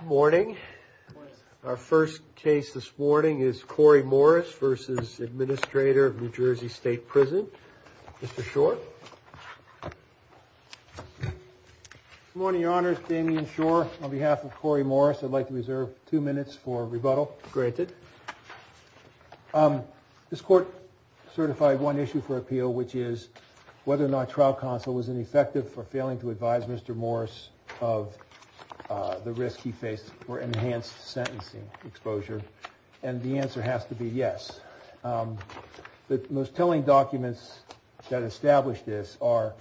Good morning. Our first case this morning is Corey Morris v. Administrator of NJ State Prison. Mr. Schor. Good morning, Your Honors. Damian Schor on behalf of Corey Morris. I'd like to reserve two minutes for rebuttal. Granted. This Court certified one issue for appeal, which is whether or not trial counsel was ineffective for failing to advise Mr. Morris of the risk he faced for enhanced sentencing exposure. And the answer has to be yes. The most telling documents that establish this are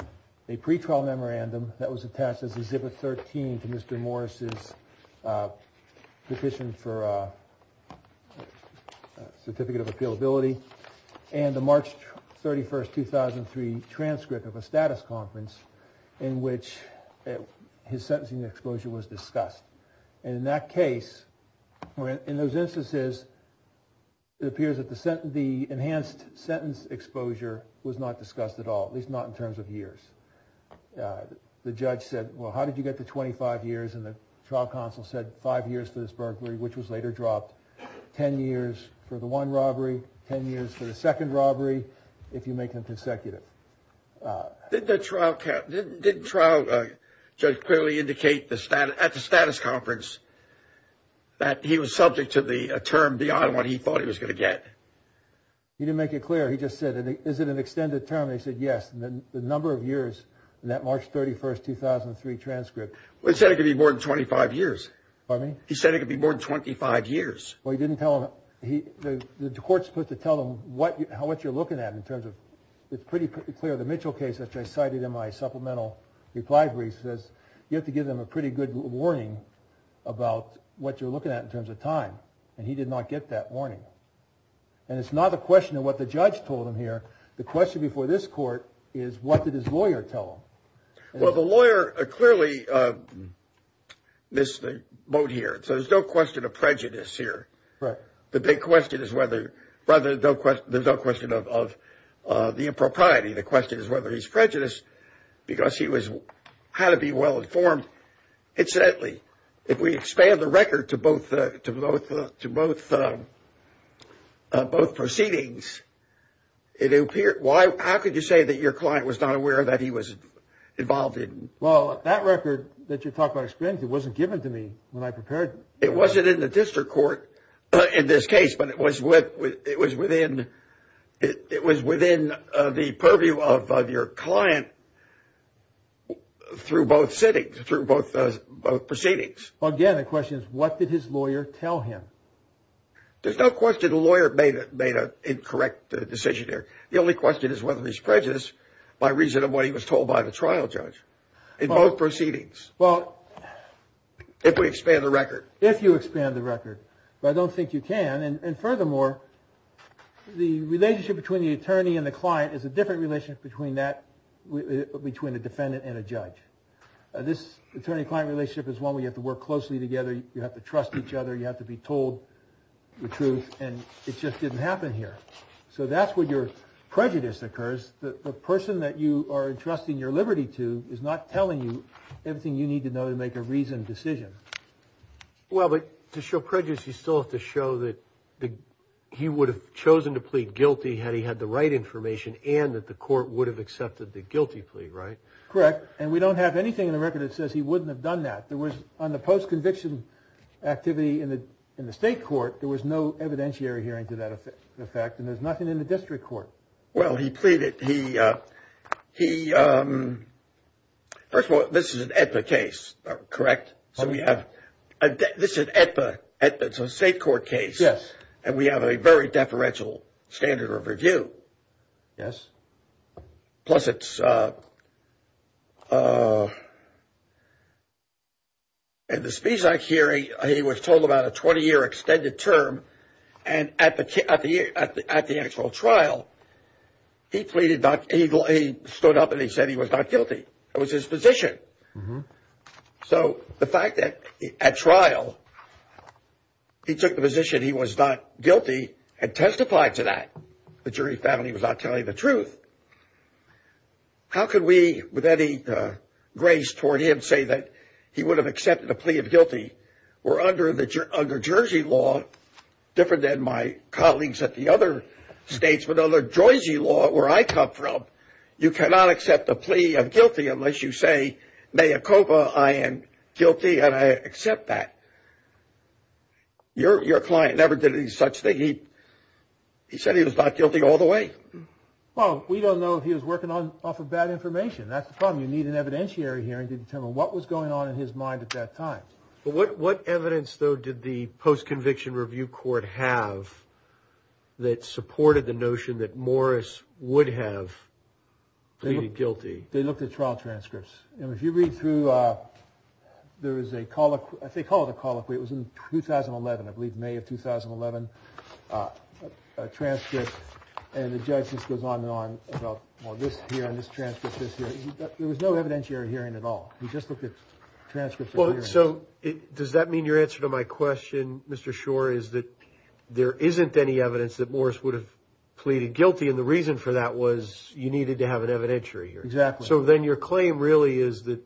a pretrial memorandum that was attached as Exhibit 13 to Mr. Morris' petition for his sentencing exposure was discussed. And in that case, in those instances, it appears that the enhanced sentence exposure was not discussed at all, at least not in terms of years. The judge said, well, how did you get to 25 years? And the trial counsel said five years for this burglary, which was later dropped, 10 years for the one robbery, 10 years for the second robbery, if you make them consecutive. Did the trial judge clearly indicate at the status conference that he was subject to the term beyond what he thought he was going to get? He didn't make it clear. He just said, is it an extended term? He said yes. The number of years in that March 31, 2003 transcript. He said it could be more than 25 years. Pardon me? He said it could be more than 25 years. Well, he didn't tell him. The court's supposed to tell him what you're looking at in terms of it's pretty clear. The Mitchell case, which I cited in my supplemental reply brief, says you have to give them a pretty good warning about what you're looking at in terms of time. And he did not get that warning. And it's not a question of what the judge told him here. The question before this court is, what did his lawyer tell him? Well, the lawyer clearly missed the boat here. So there's no question of prejudice here. Right. The big question is whether, rather, there's no question of the impropriety. The question is whether he's prejudiced because he had to be well informed. Incidentally, if we expand the record to both proceedings, it appeared. Why? How could you say that your client was not aware that he was involved in? Well, that record that you talk about expense, it wasn't given to me when I prepared. It wasn't in the district court in this case, but it was what it was within. It was within the purview of your client through both sitting through both proceedings. Again, the question is, what did his lawyer tell him? There's no question the lawyer made an incorrect decision here. The only question is whether he's prejudiced by reason of what he was told by the trial judge in both proceedings. Well, if we expand the record, if you expand the record, but I don't think you can. And furthermore, the relationship between the attorney and the client is a different relationship between that between a defendant and a judge. This attorney client relationship is one where you have to work closely together. You have to trust each other. You have to be told the truth. And it just didn't happen here. So that's where your prejudice occurs. The person that you are entrusting your liberty to is not telling you everything you need to know to make a reasoned decision. Well, but to show prejudice, you still have to show that he would have chosen to plead guilty had he had the right information and that the court would have accepted the guilty plea. Right. Correct. And we don't have anything in the record that says he wouldn't have done that. There was on the post conviction activity in the in the state court. There was no evidentiary hearing to that effect. The fact that there's nothing in the district court. Well, he pleaded he he. First of all, this is an epic case. Correct. So we have this at the state court case. Yes. And we have a very deferential standard of review. Yes. Plus, it's. And the speech I carry, he was told about a 20 year extended term. And at the at the at the actual trial, he pleaded not. He stood up and he said he was not guilty. It was his position. So the fact that at trial, he took the position he was not guilty and testified to that. The jury found he was not telling the truth. How could we with any grace toward him say that he would have accepted a plea of guilty? We're under the under Jersey law. Different than my colleagues at the other states. But under Jersey law, where I come from, you cannot accept a plea of guilty unless you say, may Copa, I am guilty and I accept that. Your your client never did any such thing. He he said he was not guilty all the way. Well, we don't know if he was working on off of bad information. That's the problem. You need an evidentiary hearing to determine what was going on in his mind at that time. But what what evidence, though, did the post-conviction review court have that supported the notion that Morris would have pleaded guilty? They looked at trial transcripts. And if you read through, there is a call. I think all the call it was in 2011, I believe, May of 2011 transcript. And the judge just goes on and on about this here and this transcript. There was no evidentiary hearing at all. He just looked at transcripts. So does that mean your answer to my question, Mr. Shore, is that there isn't any evidence that Morris would have pleaded guilty? And the reason for that was you needed to have an evidentiary. Exactly. So then your claim really is that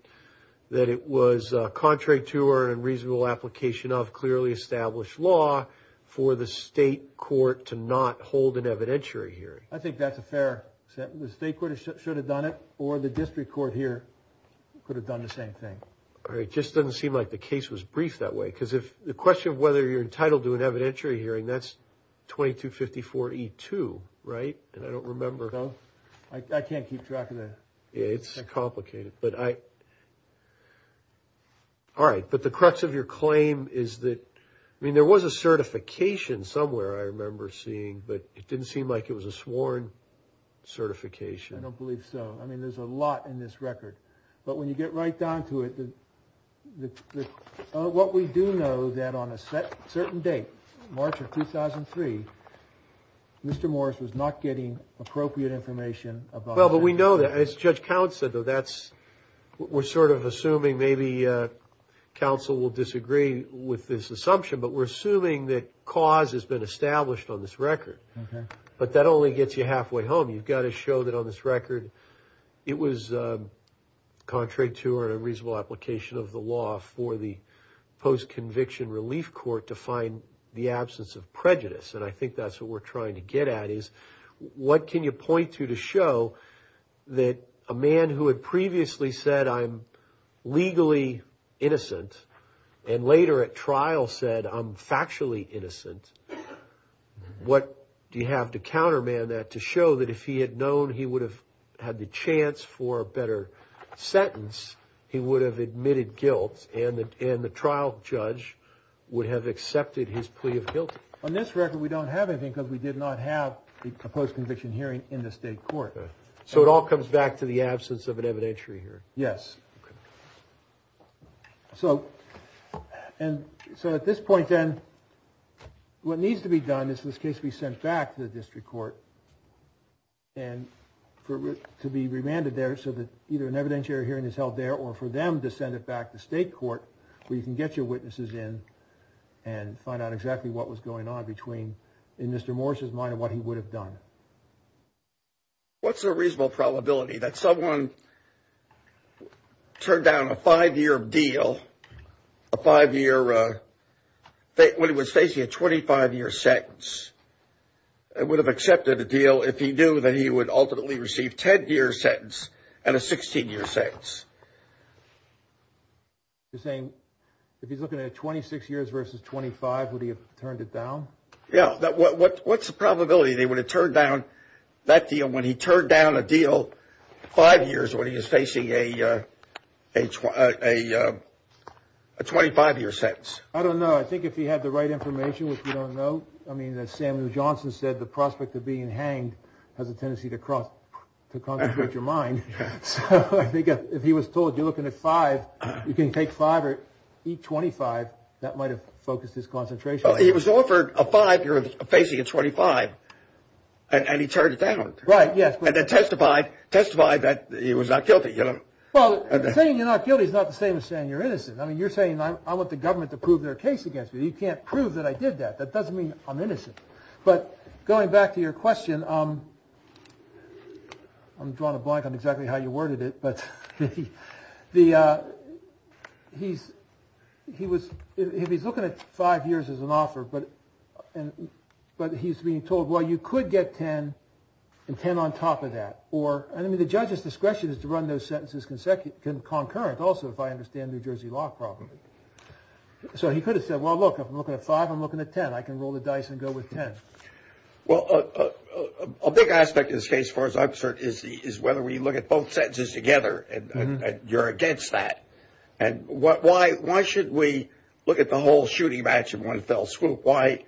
that it was contrary to our unreasonable application of clearly established law for the state court to not hold an evidentiary hearing. I think that's a fair statement. The state court should have done it or the district court here could have done the same thing. All right. Just doesn't seem like the case was brief that way, because if the question of whether you're entitled to an evidentiary hearing, that's 2254 E2. Right. And I don't remember. I can't keep track of that. It's complicated. But I. All right. But the crux of your claim is that, I mean, there was a certification somewhere I remember seeing, but it didn't seem like it was a sworn certification. I don't believe so. I mean, there's a lot in this record. But when you get right down to it, what we do know that on a certain date, March of 2003, Mr. Morris was not getting appropriate information. Well, but we know that as Judge Count said, though, that's what we're sort of assuming. Maybe counsel will disagree with this assumption, but we're assuming that cause has been established on this record. But that only gets you halfway home. You've got to show that on this record. It was contrary to our unreasonable application of the law for the post conviction relief court to find the absence of prejudice. And I think that's what we're trying to get at is what can you point to to show that a man who had previously said I'm legally innocent and later at trial said I'm factually innocent? What do you have to counterman that to show that if he had known he would have had the chance for a better sentence, he would have admitted guilt and the trial judge would have accepted his plea of guilt? On this record, we don't have anything because we did not have a post conviction hearing in the state court. So it all comes back to the absence of an evidentiary hearing. Yes. So and so at this point, then what needs to be done is this case be sent back to the district court. And for it to be remanded there so that either an evidentiary hearing is held there or for them to send it back to state court where you can get your witnesses in and find out exactly what was going on between Mr. There's a reasonable probability that someone turned down a five year deal, a five year when he was facing a 25 year sentence, would have accepted a deal if he knew that he would ultimately receive 10 year sentence and a 16 year sentence. You're saying if he's looking at 26 years versus 25, would he have turned it down? Yeah. What's the probability they would have turned down that deal when he turned down a deal? Five years when he is facing a age, a 25 year sentence? I don't know. I think if he had the right information, which we don't know. I mean, as Samuel Johnson said, the prospect of being hanged has a tendency to cross your mind. So I think if he was told you're looking at five, you can take five or eat 25. That might have focused his concentration. He was offered a five year facing a 25 and he turned it down. Right. Yes. And then testified, testified that he was not guilty. Well, saying you're not guilty is not the same as saying you're innocent. I mean, you're saying I want the government to prove their case against me. You can't prove that I did that. That doesn't mean I'm innocent. But going back to your question, I'm drawing a blank on exactly how you worded it, but he's looking at five years as an offer, but he's being told, well, you could get 10 and 10 on top of that. I mean, the judge's discretion is to run those sentences concurrent also, if I understand New Jersey law properly. So he could have said, well, look, I'm looking at five, I'm looking at 10. I can roll the dice and go with 10. Well, a big aspect of this case, as far as I'm concerned, is whether we look at both sentences together and you're against that. And why should we look at the whole shooting match in one fell swoop? Why?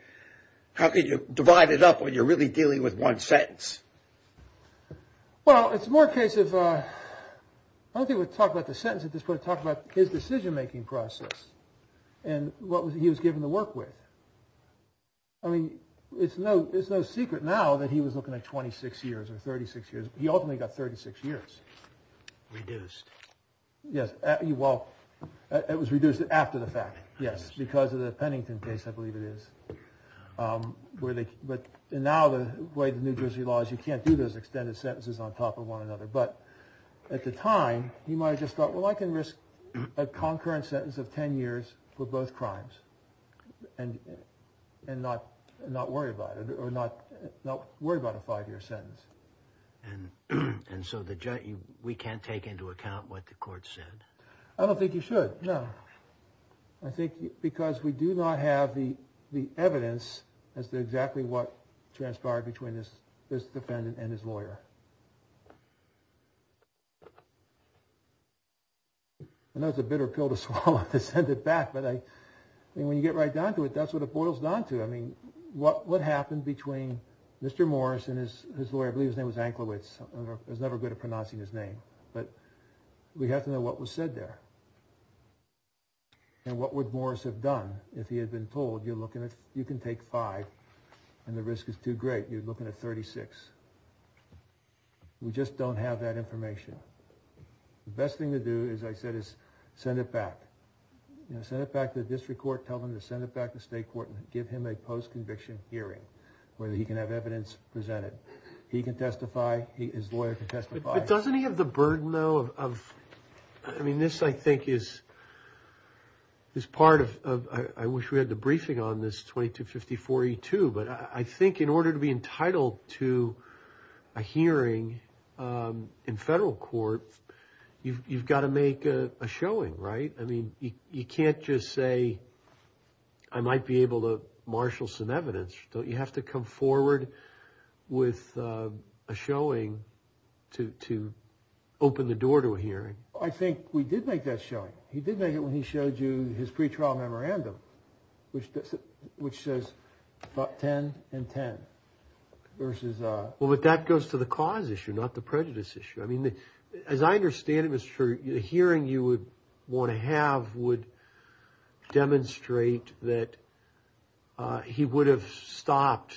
How can you divide it up when you're really dealing with one sentence? Well, it's more a case of I don't think we'll talk about the sentence at this point, but I want to talk about his decision-making process and what he was given to work with. I mean, it's no secret now that he was looking at 26 years or 36 years. He ultimately got 36 years. Reduced. Yes, well, it was reduced after the fact, yes, because of the Pennington case, I believe it is. But now the way the New Jersey law is, you can't do those extended sentences on top of one another. But at the time, he might have just thought, well, I can risk a concurrent sentence of 10 years for both crimes and not worry about it or not worry about a five-year sentence. And so we can't take into account what the court said? I don't think you should, no. I think because we do not have the evidence as to exactly what transpired between this defendant and his lawyer. I know it's a bitter pill to swallow to send it back, but when you get right down to it, that's what it boils down to. I mean, what happened between Mr. Morris and his lawyer, I believe his name was Anklewicz. I was never good at pronouncing his name, but we have to know what was said there. And what would Morris have done if he had been told, you can take five and the risk is too great, you're looking at 36. We just don't have that information. The best thing to do, as I said, is send it back. Send it back to the district court, tell them to send it back to state court and give him a post-conviction hearing where he can have evidence presented. He can testify, his lawyer can testify. But doesn't he have the burden, though? I mean, this, I think, is part of, I wish we had the briefing on this 2254E2, but I think in order to be entitled to a hearing in federal court, you've got to make a showing, right? I mean, you can't just say, I might be able to marshal some evidence. You have to come forward with a showing to open the door to a hearing. I think we did make that showing. He did make it when he showed you his pre-trial memorandum, which says about 10 and 10 versus a- Well, but that goes to the cause issue, not the prejudice issue. I mean, as I understand it, Mr. Church, a hearing you would want to have would demonstrate that he would have stopped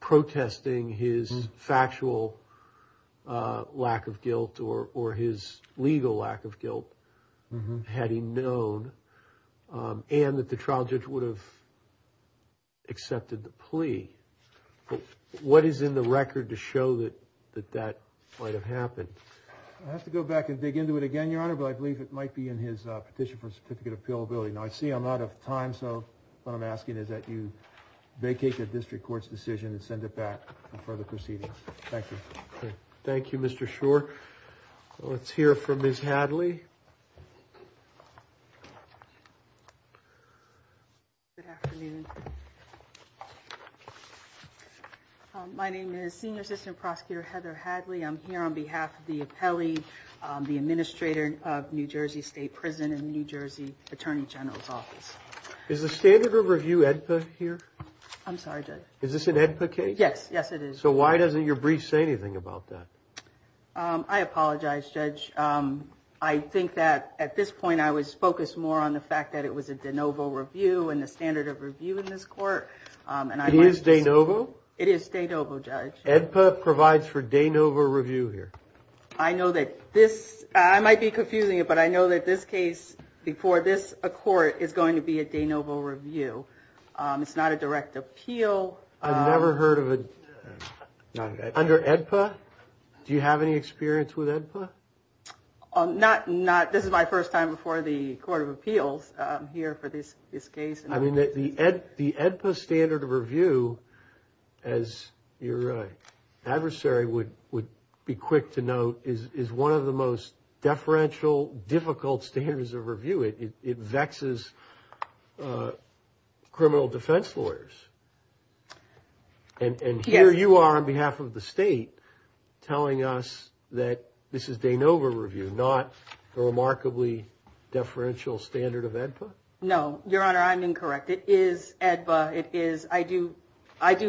protesting his factual lack of guilt or his legal lack of guilt, had he known, and that the trial judge would have accepted the plea. What is in the record to show that that might have happened? I have to go back and dig into it again, Your Honor, but I believe it might be in his petition for certificate of appealability. Now, I see I'm out of time, so what I'm asking is that you vacate the district court's decision and send it back for further proceedings. Thank you. Thank you, Mr. Chur. Let's hear from Ms. Hadley. Good afternoon. My name is Senior Assistant Prosecutor Heather Hadley. I'm here on behalf of the appellee, the administrator of New Jersey State Prison and New Jersey Attorney General's Office. Is the standard of review AEDPA here? I'm sorry, Judge. Is this an AEDPA case? Yes. Yes, it is. So why doesn't your brief say anything about that? I apologize, Judge. I think that at this point I was focused more on the fact that it was a de novo review and the standard of review in this court. It is de novo? It is de novo, Judge. AEDPA provides for de novo review here? I know that this – I might be confusing it, but I know that this case before this court is going to be a de novo review. It's not a direct appeal. I've never heard of a – under AEDPA? Do you have any experience with AEDPA? Not – this is my first time before the Court of Appeals here for this case. I mean, the AEDPA standard of review, as your adversary would be quick to note, is one of the most deferential, difficult standards of review. It vexes criminal defense lawyers. And here you are on behalf of the state telling us that this is de novo review, not the remarkably deferential standard of AEDPA? No, Your Honor, I'm incorrect. It is AEDPA. It is – I do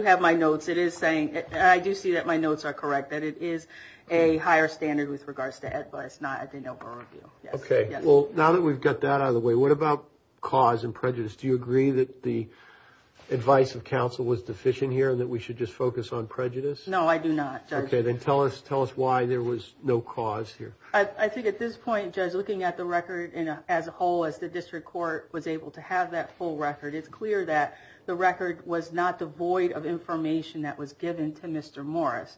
have my notes. It is saying – I do see that my notes are correct, that it is a higher standard with regards to AEDPA. It's not a de novo review. Okay. Well, now that we've got that out of the way, what about cause and prejudice? Do you agree that the advice of counsel was deficient here and that we should just focus on prejudice? No, I do not, Judge. Okay, then tell us why there was no cause here. I think at this point, Judge, looking at the record as a whole, as the district court was able to have that full record, it's clear that the record was not devoid of information that was given to Mr. Morris.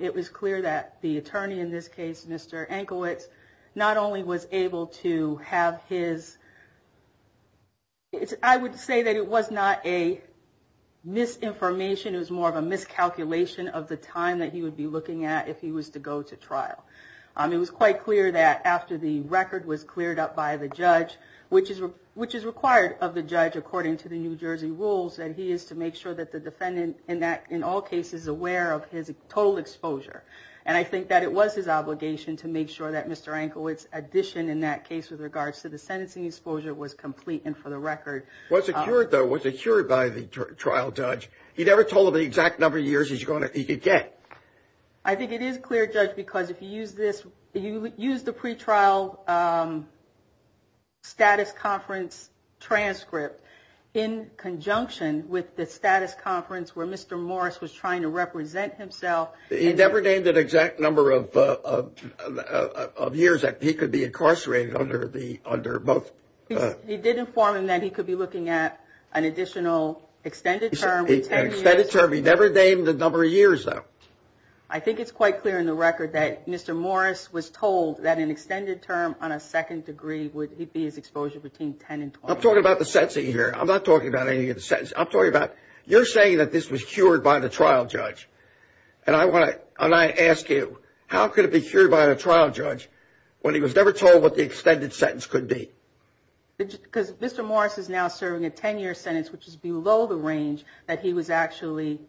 It was clear that the attorney in this case, Mr. Enkowitz, not only was able to have his – I would say that it was not a misinformation. It was more of a miscalculation of the time that he would be looking at if he was to go to trial. It was quite clear that after the record was cleared up by the judge, which is required of the judge according to the New Jersey rules, that he is to make sure that the defendant in all cases is aware of his total exposure. And I think that it was his obligation to make sure that Mr. Enkowitz's addition in that case with regards to the sentencing exposure was complete and for the record. Was it cured, though? Was it cured by the trial judge? He never told him the exact number of years he could get. I think it is clear, Judge, because if you use this – if you use the pretrial status conference transcript in conjunction with the status conference where Mr. Morris was trying to represent himself. He never named an exact number of years that he could be incarcerated under both. He did inform him that he could be looking at an additional extended term. He never named the number of years, though. I think it's quite clear in the record that Mr. Morris was told that an extended term on a second degree would be his exposure between 10 and 20. I'm talking about the sentencing here. I'm not talking about any of the sentences. I'm talking about – you're saying that this was cured by the trial judge. And I want to – and I ask you, how could it be cured by the trial judge when he was never told what the extended sentence could be? Because Mr. Morris is now serving a 10-year sentence, which is below the range that he was actually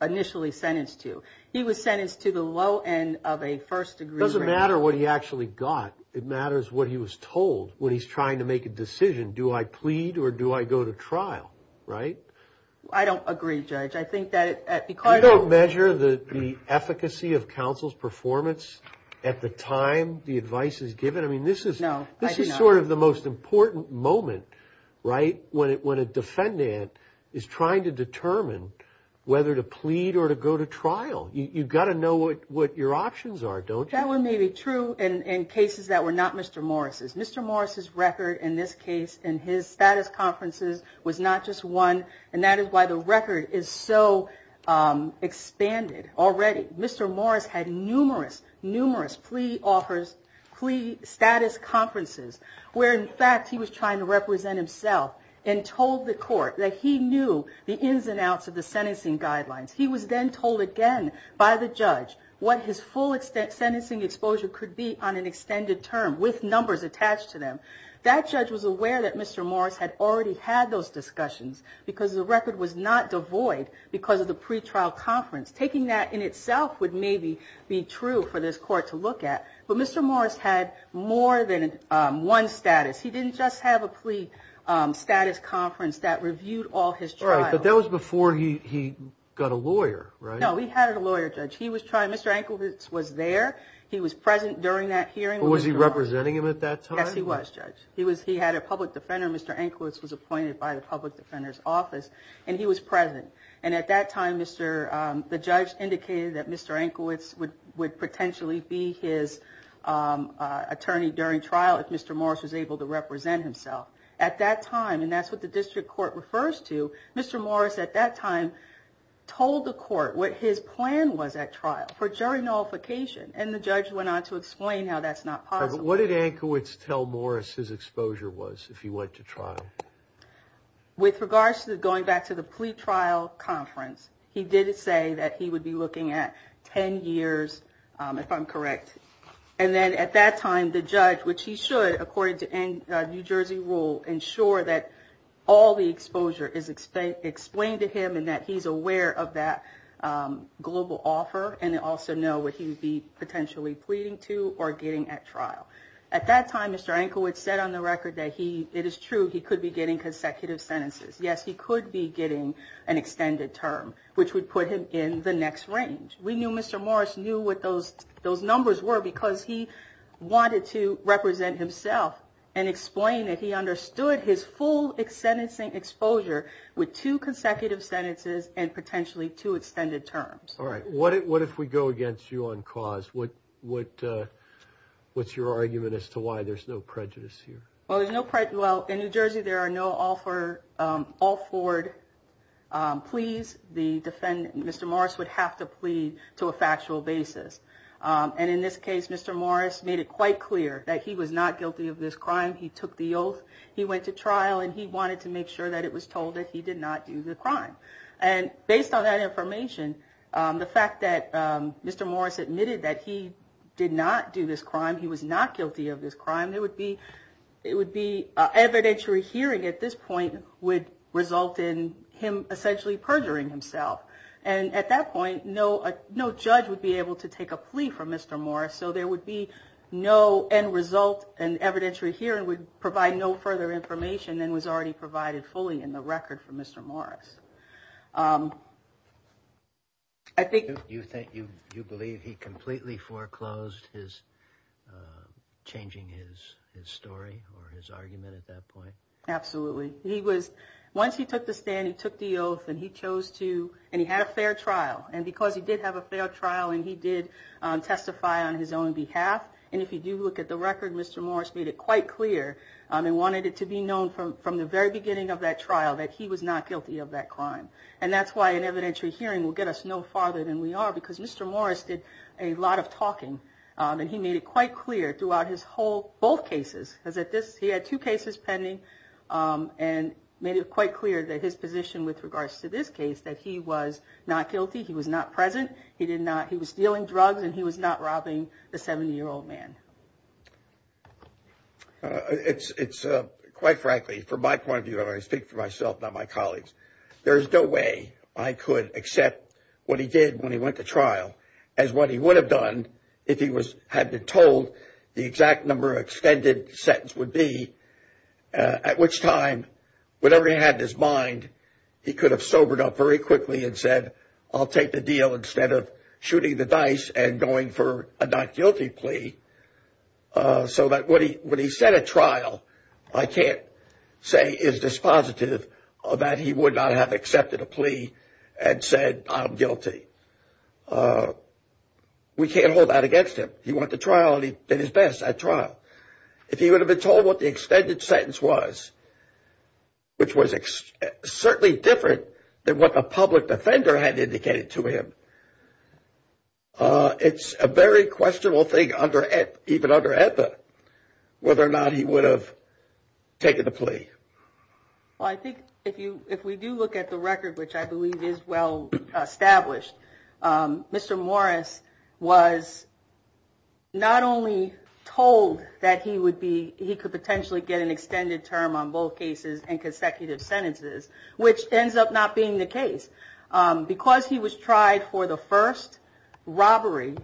initially sentenced to. He was sentenced to the low end of a first degree. It doesn't matter what he actually got. It matters what he was told when he's trying to make a decision. Do I plead or do I go to trial, right? I don't agree, Judge. I think that – You don't measure the efficacy of counsel's performance at the time the advice is given? No, I do not. This is sort of the most important moment, right, when a defendant is trying to determine whether to plead or to go to trial. You've got to know what your options are, don't you? That may be true in cases that were not Mr. Morris's. Mr. Morris's record in this case and his status conferences was not just one, and that is why the record is so expanded already. Mr. Morris had numerous, numerous plea offers, plea status conferences where, in fact, he was trying to represent himself and told the court that he knew the ins and outs of the sentencing guidelines. He was then told again by the judge what his full sentencing exposure could be on an extended term with numbers attached to them. That judge was aware that Mr. Morris had already had those discussions because the record was not devoid because of the pretrial conference. Taking that in itself would maybe be true for this court to look at, but Mr. Morris had more than one status. He didn't just have a plea status conference that reviewed all his trials. All right, but that was before he got a lawyer, right? No, he had a lawyer, Judge. He was trying – Mr. Anklewicz was there. He was present during that hearing. Was he representing him at that time? Yes, he was, Judge. He had a public defender. Mr. Anklewicz was appointed by the public defender's office, and he was present. And at that time, the judge indicated that Mr. Anklewicz would potentially be his attorney during trial if Mr. Morris was able to represent himself. At that time, and that's what the district court refers to, Mr. Morris at that time told the court what his plan was at trial for jury nullification, and the judge went on to explain how that's not possible. But what did Anklewicz tell Morris his exposure was if he went to trial? With regards to going back to the plea trial conference, he did say that he would be looking at 10 years, if I'm correct. And then at that time, the judge, which he should, according to New Jersey rule, ensure that all the exposure is explained to him and that he's aware of that global offer and also know what he would be potentially pleading to or getting at trial. At that time, Mr. Anklewicz said on the record that it is true he could be getting consecutive sentences. Yes, he could be getting an extended term, which would put him in the next range. We knew Mr. Morris knew what those numbers were because he wanted to represent himself and explain that he understood his full sentencing exposure with two consecutive sentences and potentially two extended terms. All right. What if we go against you on cause? What's your argument as to why there's no prejudice here? Well, there's no prejudice. Well, in New Jersey, there are no all for all forward pleas. The defendant, Mr. Morris, would have to plead to a factual basis. And in this case, Mr. Morris made it quite clear that he was not guilty of this crime. He took the oath. He went to trial and he wanted to make sure that it was told that he did not do the crime. And based on that information, the fact that Mr. Morris admitted that he did not do this crime, he was not guilty of this crime, it would be evidentiary hearing at this point would result in him essentially perjuring himself. And at that point, no judge would be able to take a plea from Mr. Morris, so there would be no end result and evidentiary hearing would provide no further information than was already provided fully in the record for Mr. Morris. I think you think you believe he completely foreclosed his changing his story or his argument at that point. Absolutely. He was once he took the stand, he took the oath and he chose to and he had a fair trial. And because he did have a fair trial and he did testify on his own behalf. And if you do look at the record, Mr. Morris made it quite clear and wanted it to be known from the very beginning of that trial that he was not guilty of that crime. And that's why an evidentiary hearing will get us no farther than we are, because Mr. Morris did a lot of talking. And he made it quite clear throughout his whole both cases as at this. He had two cases pending and made it quite clear that his position with regards to this case, that he was not guilty. He was not present. He did not. He was dealing drugs and he was not robbing the 70 year old man. It's it's quite frankly, from my point of view, I speak for myself, not my colleagues. There is no way I could accept what he did when he went to trial as what he would have done if he was had been told. The exact number extended sentence would be at which time whatever he had in his mind, he could have sobered up very quickly and said, I'll take the deal instead of shooting the dice and going for a not guilty plea. So that what he what he said at trial, I can't say is dispositive of that. He would not have accepted a plea and said, I'm guilty. We can't hold that against him. He went to trial and he did his best at trial. If he would have been told what the extended sentence was. Which was certainly different than what a public defender had indicated to him. It's a very questionable thing under it, even under whether or not he would have taken the plea. I think if you if we do look at the record, which I believe is well established. Mr. Morris was not only told that he would be he could potentially get an extended term on both cases and consecutive sentences, which ends up not being the case because he was tried for the first robbery.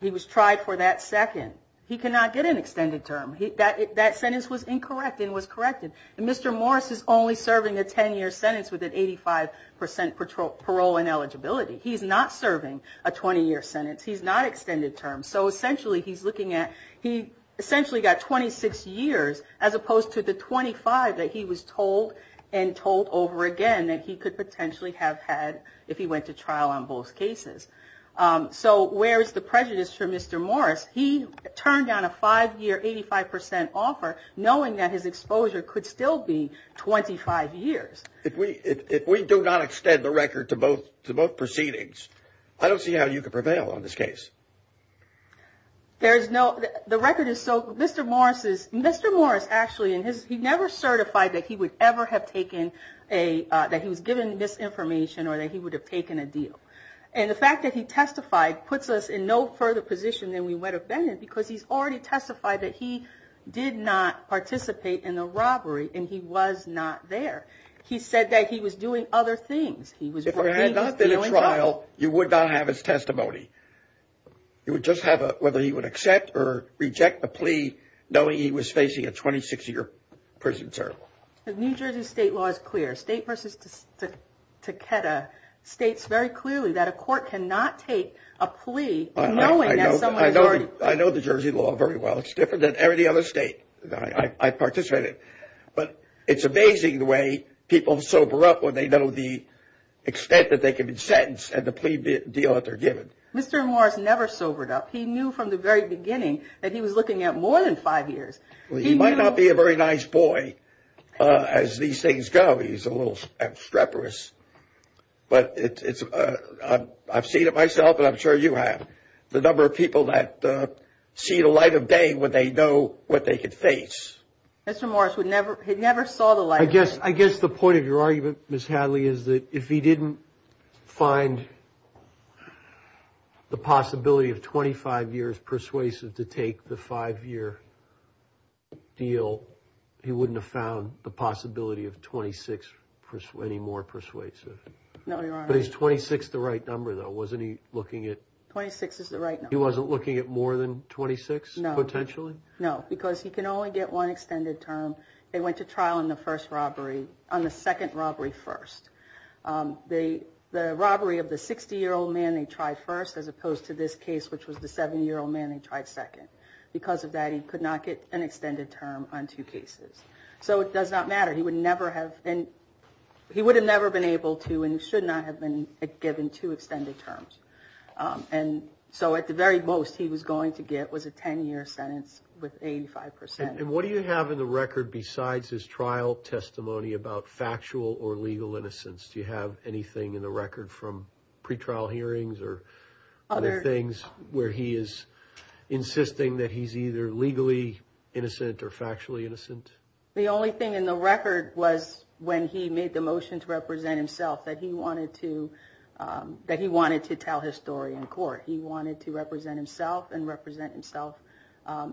He was tried for that second. He cannot get an extended term. That sentence was incorrect and was corrected. And Mr. Morris is only serving a 10 year sentence with an 85 percent patrol parole and eligibility. He's not serving a 20 year sentence. He's not extended term. So essentially he's looking at he essentially got 26 years as opposed to the 25 that he was told and told over again. That he could potentially have had if he went to trial on both cases. So where is the prejudice for Mr. Morris? He turned down a five year, 85 percent offer, knowing that his exposure could still be 25 years. If we if we do not extend the record to both to both proceedings, I don't see how you could prevail on this case. There is no the record is so. Mr. Morris is Mr. Morris. Actually, in his he never certified that he would ever have taken a that he was given misinformation or that he would have taken a deal. And the fact that he testified puts us in no further position than we would have been in, because he's already testified that he did not participate in the robbery and he was not there. He said that he was doing other things. He was. If it had not been a trial, you would not have his testimony. You would just have whether he would accept or reject the plea, knowing he was facing a 26 year prison term. The New Jersey state law is clear. State versus Takeda states very clearly that a court cannot take a plea. I know. I know. I know the Jersey law very well. It's different than every other state. I participated. But it's amazing the way people sober up when they know the extent that they can be sentenced and the plea deal that they're given. Mr. Morris never sobered up. He knew from the very beginning that he was looking at more than five years. Well, he might not be a very nice boy as these things go. He's a little streperous, but it's I've seen it myself and I'm sure you have. The number of people that see the light of day when they know what they could face. Mr. Morris would never had never saw the light. I guess. I guess the point of your argument, Ms. Hadley, is that if he didn't find the possibility of 25 years persuasive to take the five year deal, he wouldn't have found the possibility of 26 persuading more persuasive. No, he's 26. The right number, though, wasn't he looking at 26 is the right. He wasn't looking at more than 26. No, potentially. No, because he can only get one extended term. They went to trial in the first robbery on the second robbery. First, they the robbery of the 60 year old man. They tried first, as opposed to this case, which was the 70 year old man. They tried second. Because of that, he could not get an extended term on two cases. So it does not matter. He would never have been. He would have never been able to and should not have been given two extended terms. And so at the very most, he was going to get was a 10 year sentence with 85 percent. And what do you have in the record besides his trial testimony about factual or legal innocence? Do you have anything in the record from pretrial hearings or other things where he is insisting that he's either legally innocent or factually innocent? The only thing in the record was when he made the motion to represent himself, that he wanted to that he wanted to tell his story in court. He wanted to represent himself and represent himself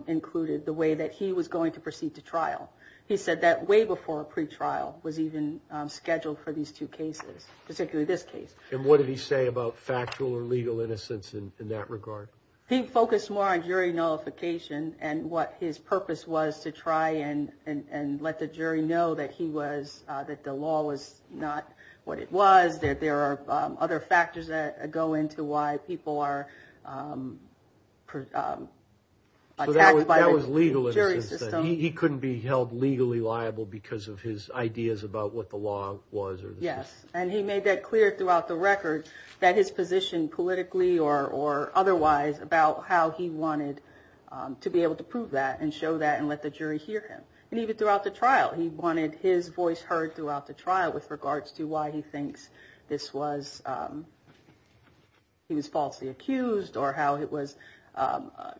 included the way that he was going to proceed to trial. He said that way before a pretrial was even scheduled for these two cases, particularly this case. And what did he say about factual or legal innocence in that regard? He focused more on jury nullification and what his purpose was to try and and let the jury know that he was that the law was not what it was, that there are other factors that go into why people are attacked by the jury system. He couldn't be held legally liable because of his ideas about what the law was. Yes. And he made that clear throughout the record that his position politically or otherwise about how he wanted to be able to prove that and show that and let the jury hear him. And even throughout the trial, he wanted his voice heard throughout the trial with regards to why he thinks this was he was falsely accused or how it was.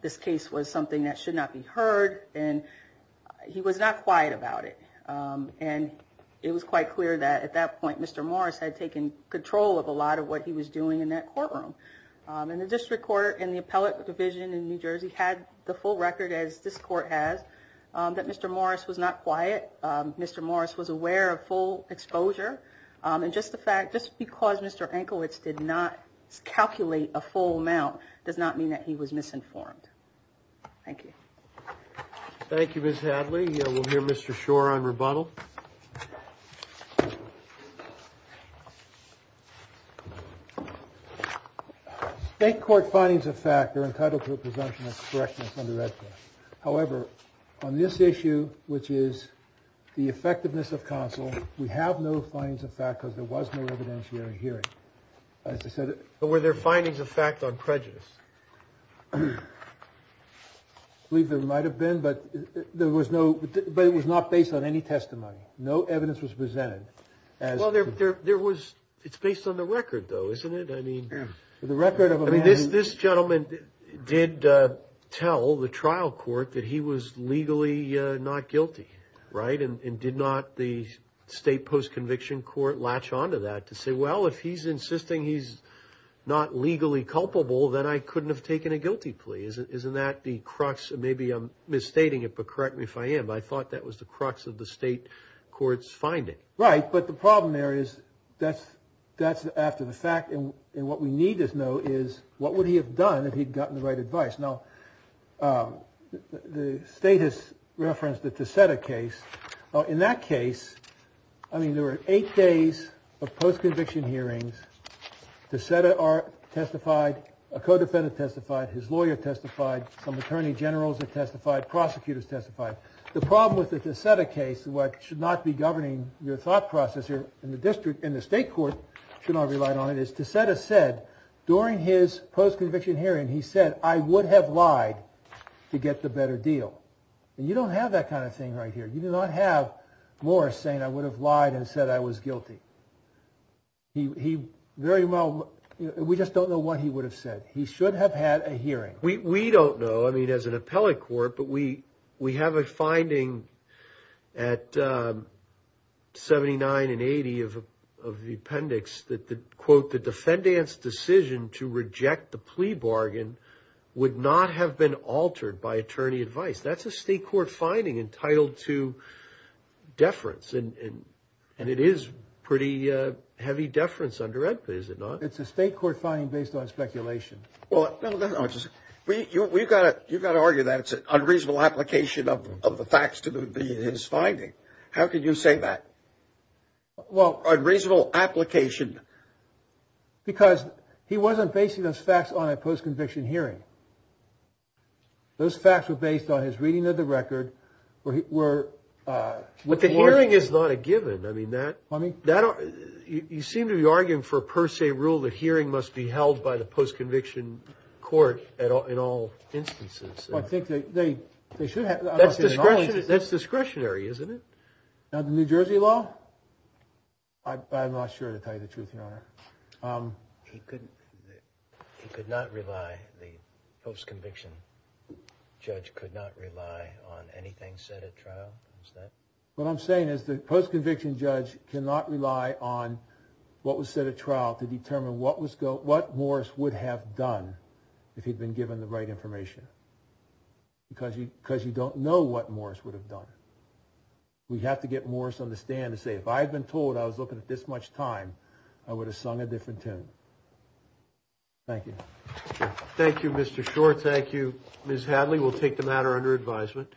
This case was something that should not be heard. And he was not quiet about it. And it was quite clear that at that point, Mr. Morris had taken control of a lot of what he was doing in that courtroom. And the district court in the appellate division in New Jersey had the full record, as this court has, that Mr. Morris was not quiet. Mr. Morris was aware of full exposure. And just the fact just because Mr. Enkowitz did not calculate a full amount does not mean that he was misinformed. Thank you. Thank you, Miss Hadley. We'll hear Mr. Shore on rebuttal. State court findings of fact are entitled to a presumption of correctness. However, on this issue, which is the effectiveness of counsel, we have no findings of fact because there was no evidentiary hearing. As I said, were there findings of fact on prejudice? I believe there might have been, but there was no but it was not based on any testimony. No evidence was presented as well. There was. It's based on the record, though, isn't it? I mean, the record of this gentleman did tell the trial court that he was legally not guilty. Right. And did not the state post-conviction court latch onto that to say, well, if he's insisting he's not legally culpable, then I couldn't have taken a guilty plea. Isn't that the crux? Maybe I'm misstating it, but correct me if I am. I thought that was the crux of the state court's finding. Right. But the problem there is that's that's after the fact. And what we need to know is what would he have done if he'd gotten the right advice? Now, the state has referenced that to set a case in that case. I mean, there were eight days of post-conviction hearings to set are testified. A codefendant testified. His lawyer testified. Some attorney generals have testified. Prosecutors testified. The problem with it is set a case. What should not be governing your thought process here in the district. And the state court should not relied on it is to set a said during his post-conviction hearing, he said, I would have lied to get the better deal. And you don't have that kind of thing right here. You do not have more saying I would have lied and said I was guilty. He very well. We just don't know what he would have said. He should have had a hearing. We don't know. I mean, as an appellate court, but we we have a finding at seventy nine and 80 of the appendix that the quote, the defendant's decision to reject the plea bargain would not have been altered by attorney advice. That's a state court finding entitled to deference. And it is pretty heavy deference under it, is it not? It's a state court finding based on speculation. Well, we've got it. You've got to argue that it's an unreasonable application of the facts to be his finding. How can you say that? Well, a reasonable application. Because he wasn't basing those facts on a post-conviction hearing. Those facts were based on his reading of the record where he were with the hearing is not a given. I mean, that money that you seem to be arguing for per se rule. The hearing must be held by the post-conviction court at all in all instances. I think they should have discretionary, isn't it? New Jersey law. I'm not sure to tell you the truth. He couldn't. He could not rely. The post-conviction judge could not rely on anything set at trial. What I'm saying is the post-conviction judge cannot rely on what was set at trial to determine what Morris would have done if he'd been given the right information. Because you don't know what Morris would have done. We have to get Morris on the stand to say, if I had been told I was looking at this much time, I would have sung a different tune. Thank you. Thank you, Mr. Short. Thank you, Ms. Hadley. We'll take the matter under advisement.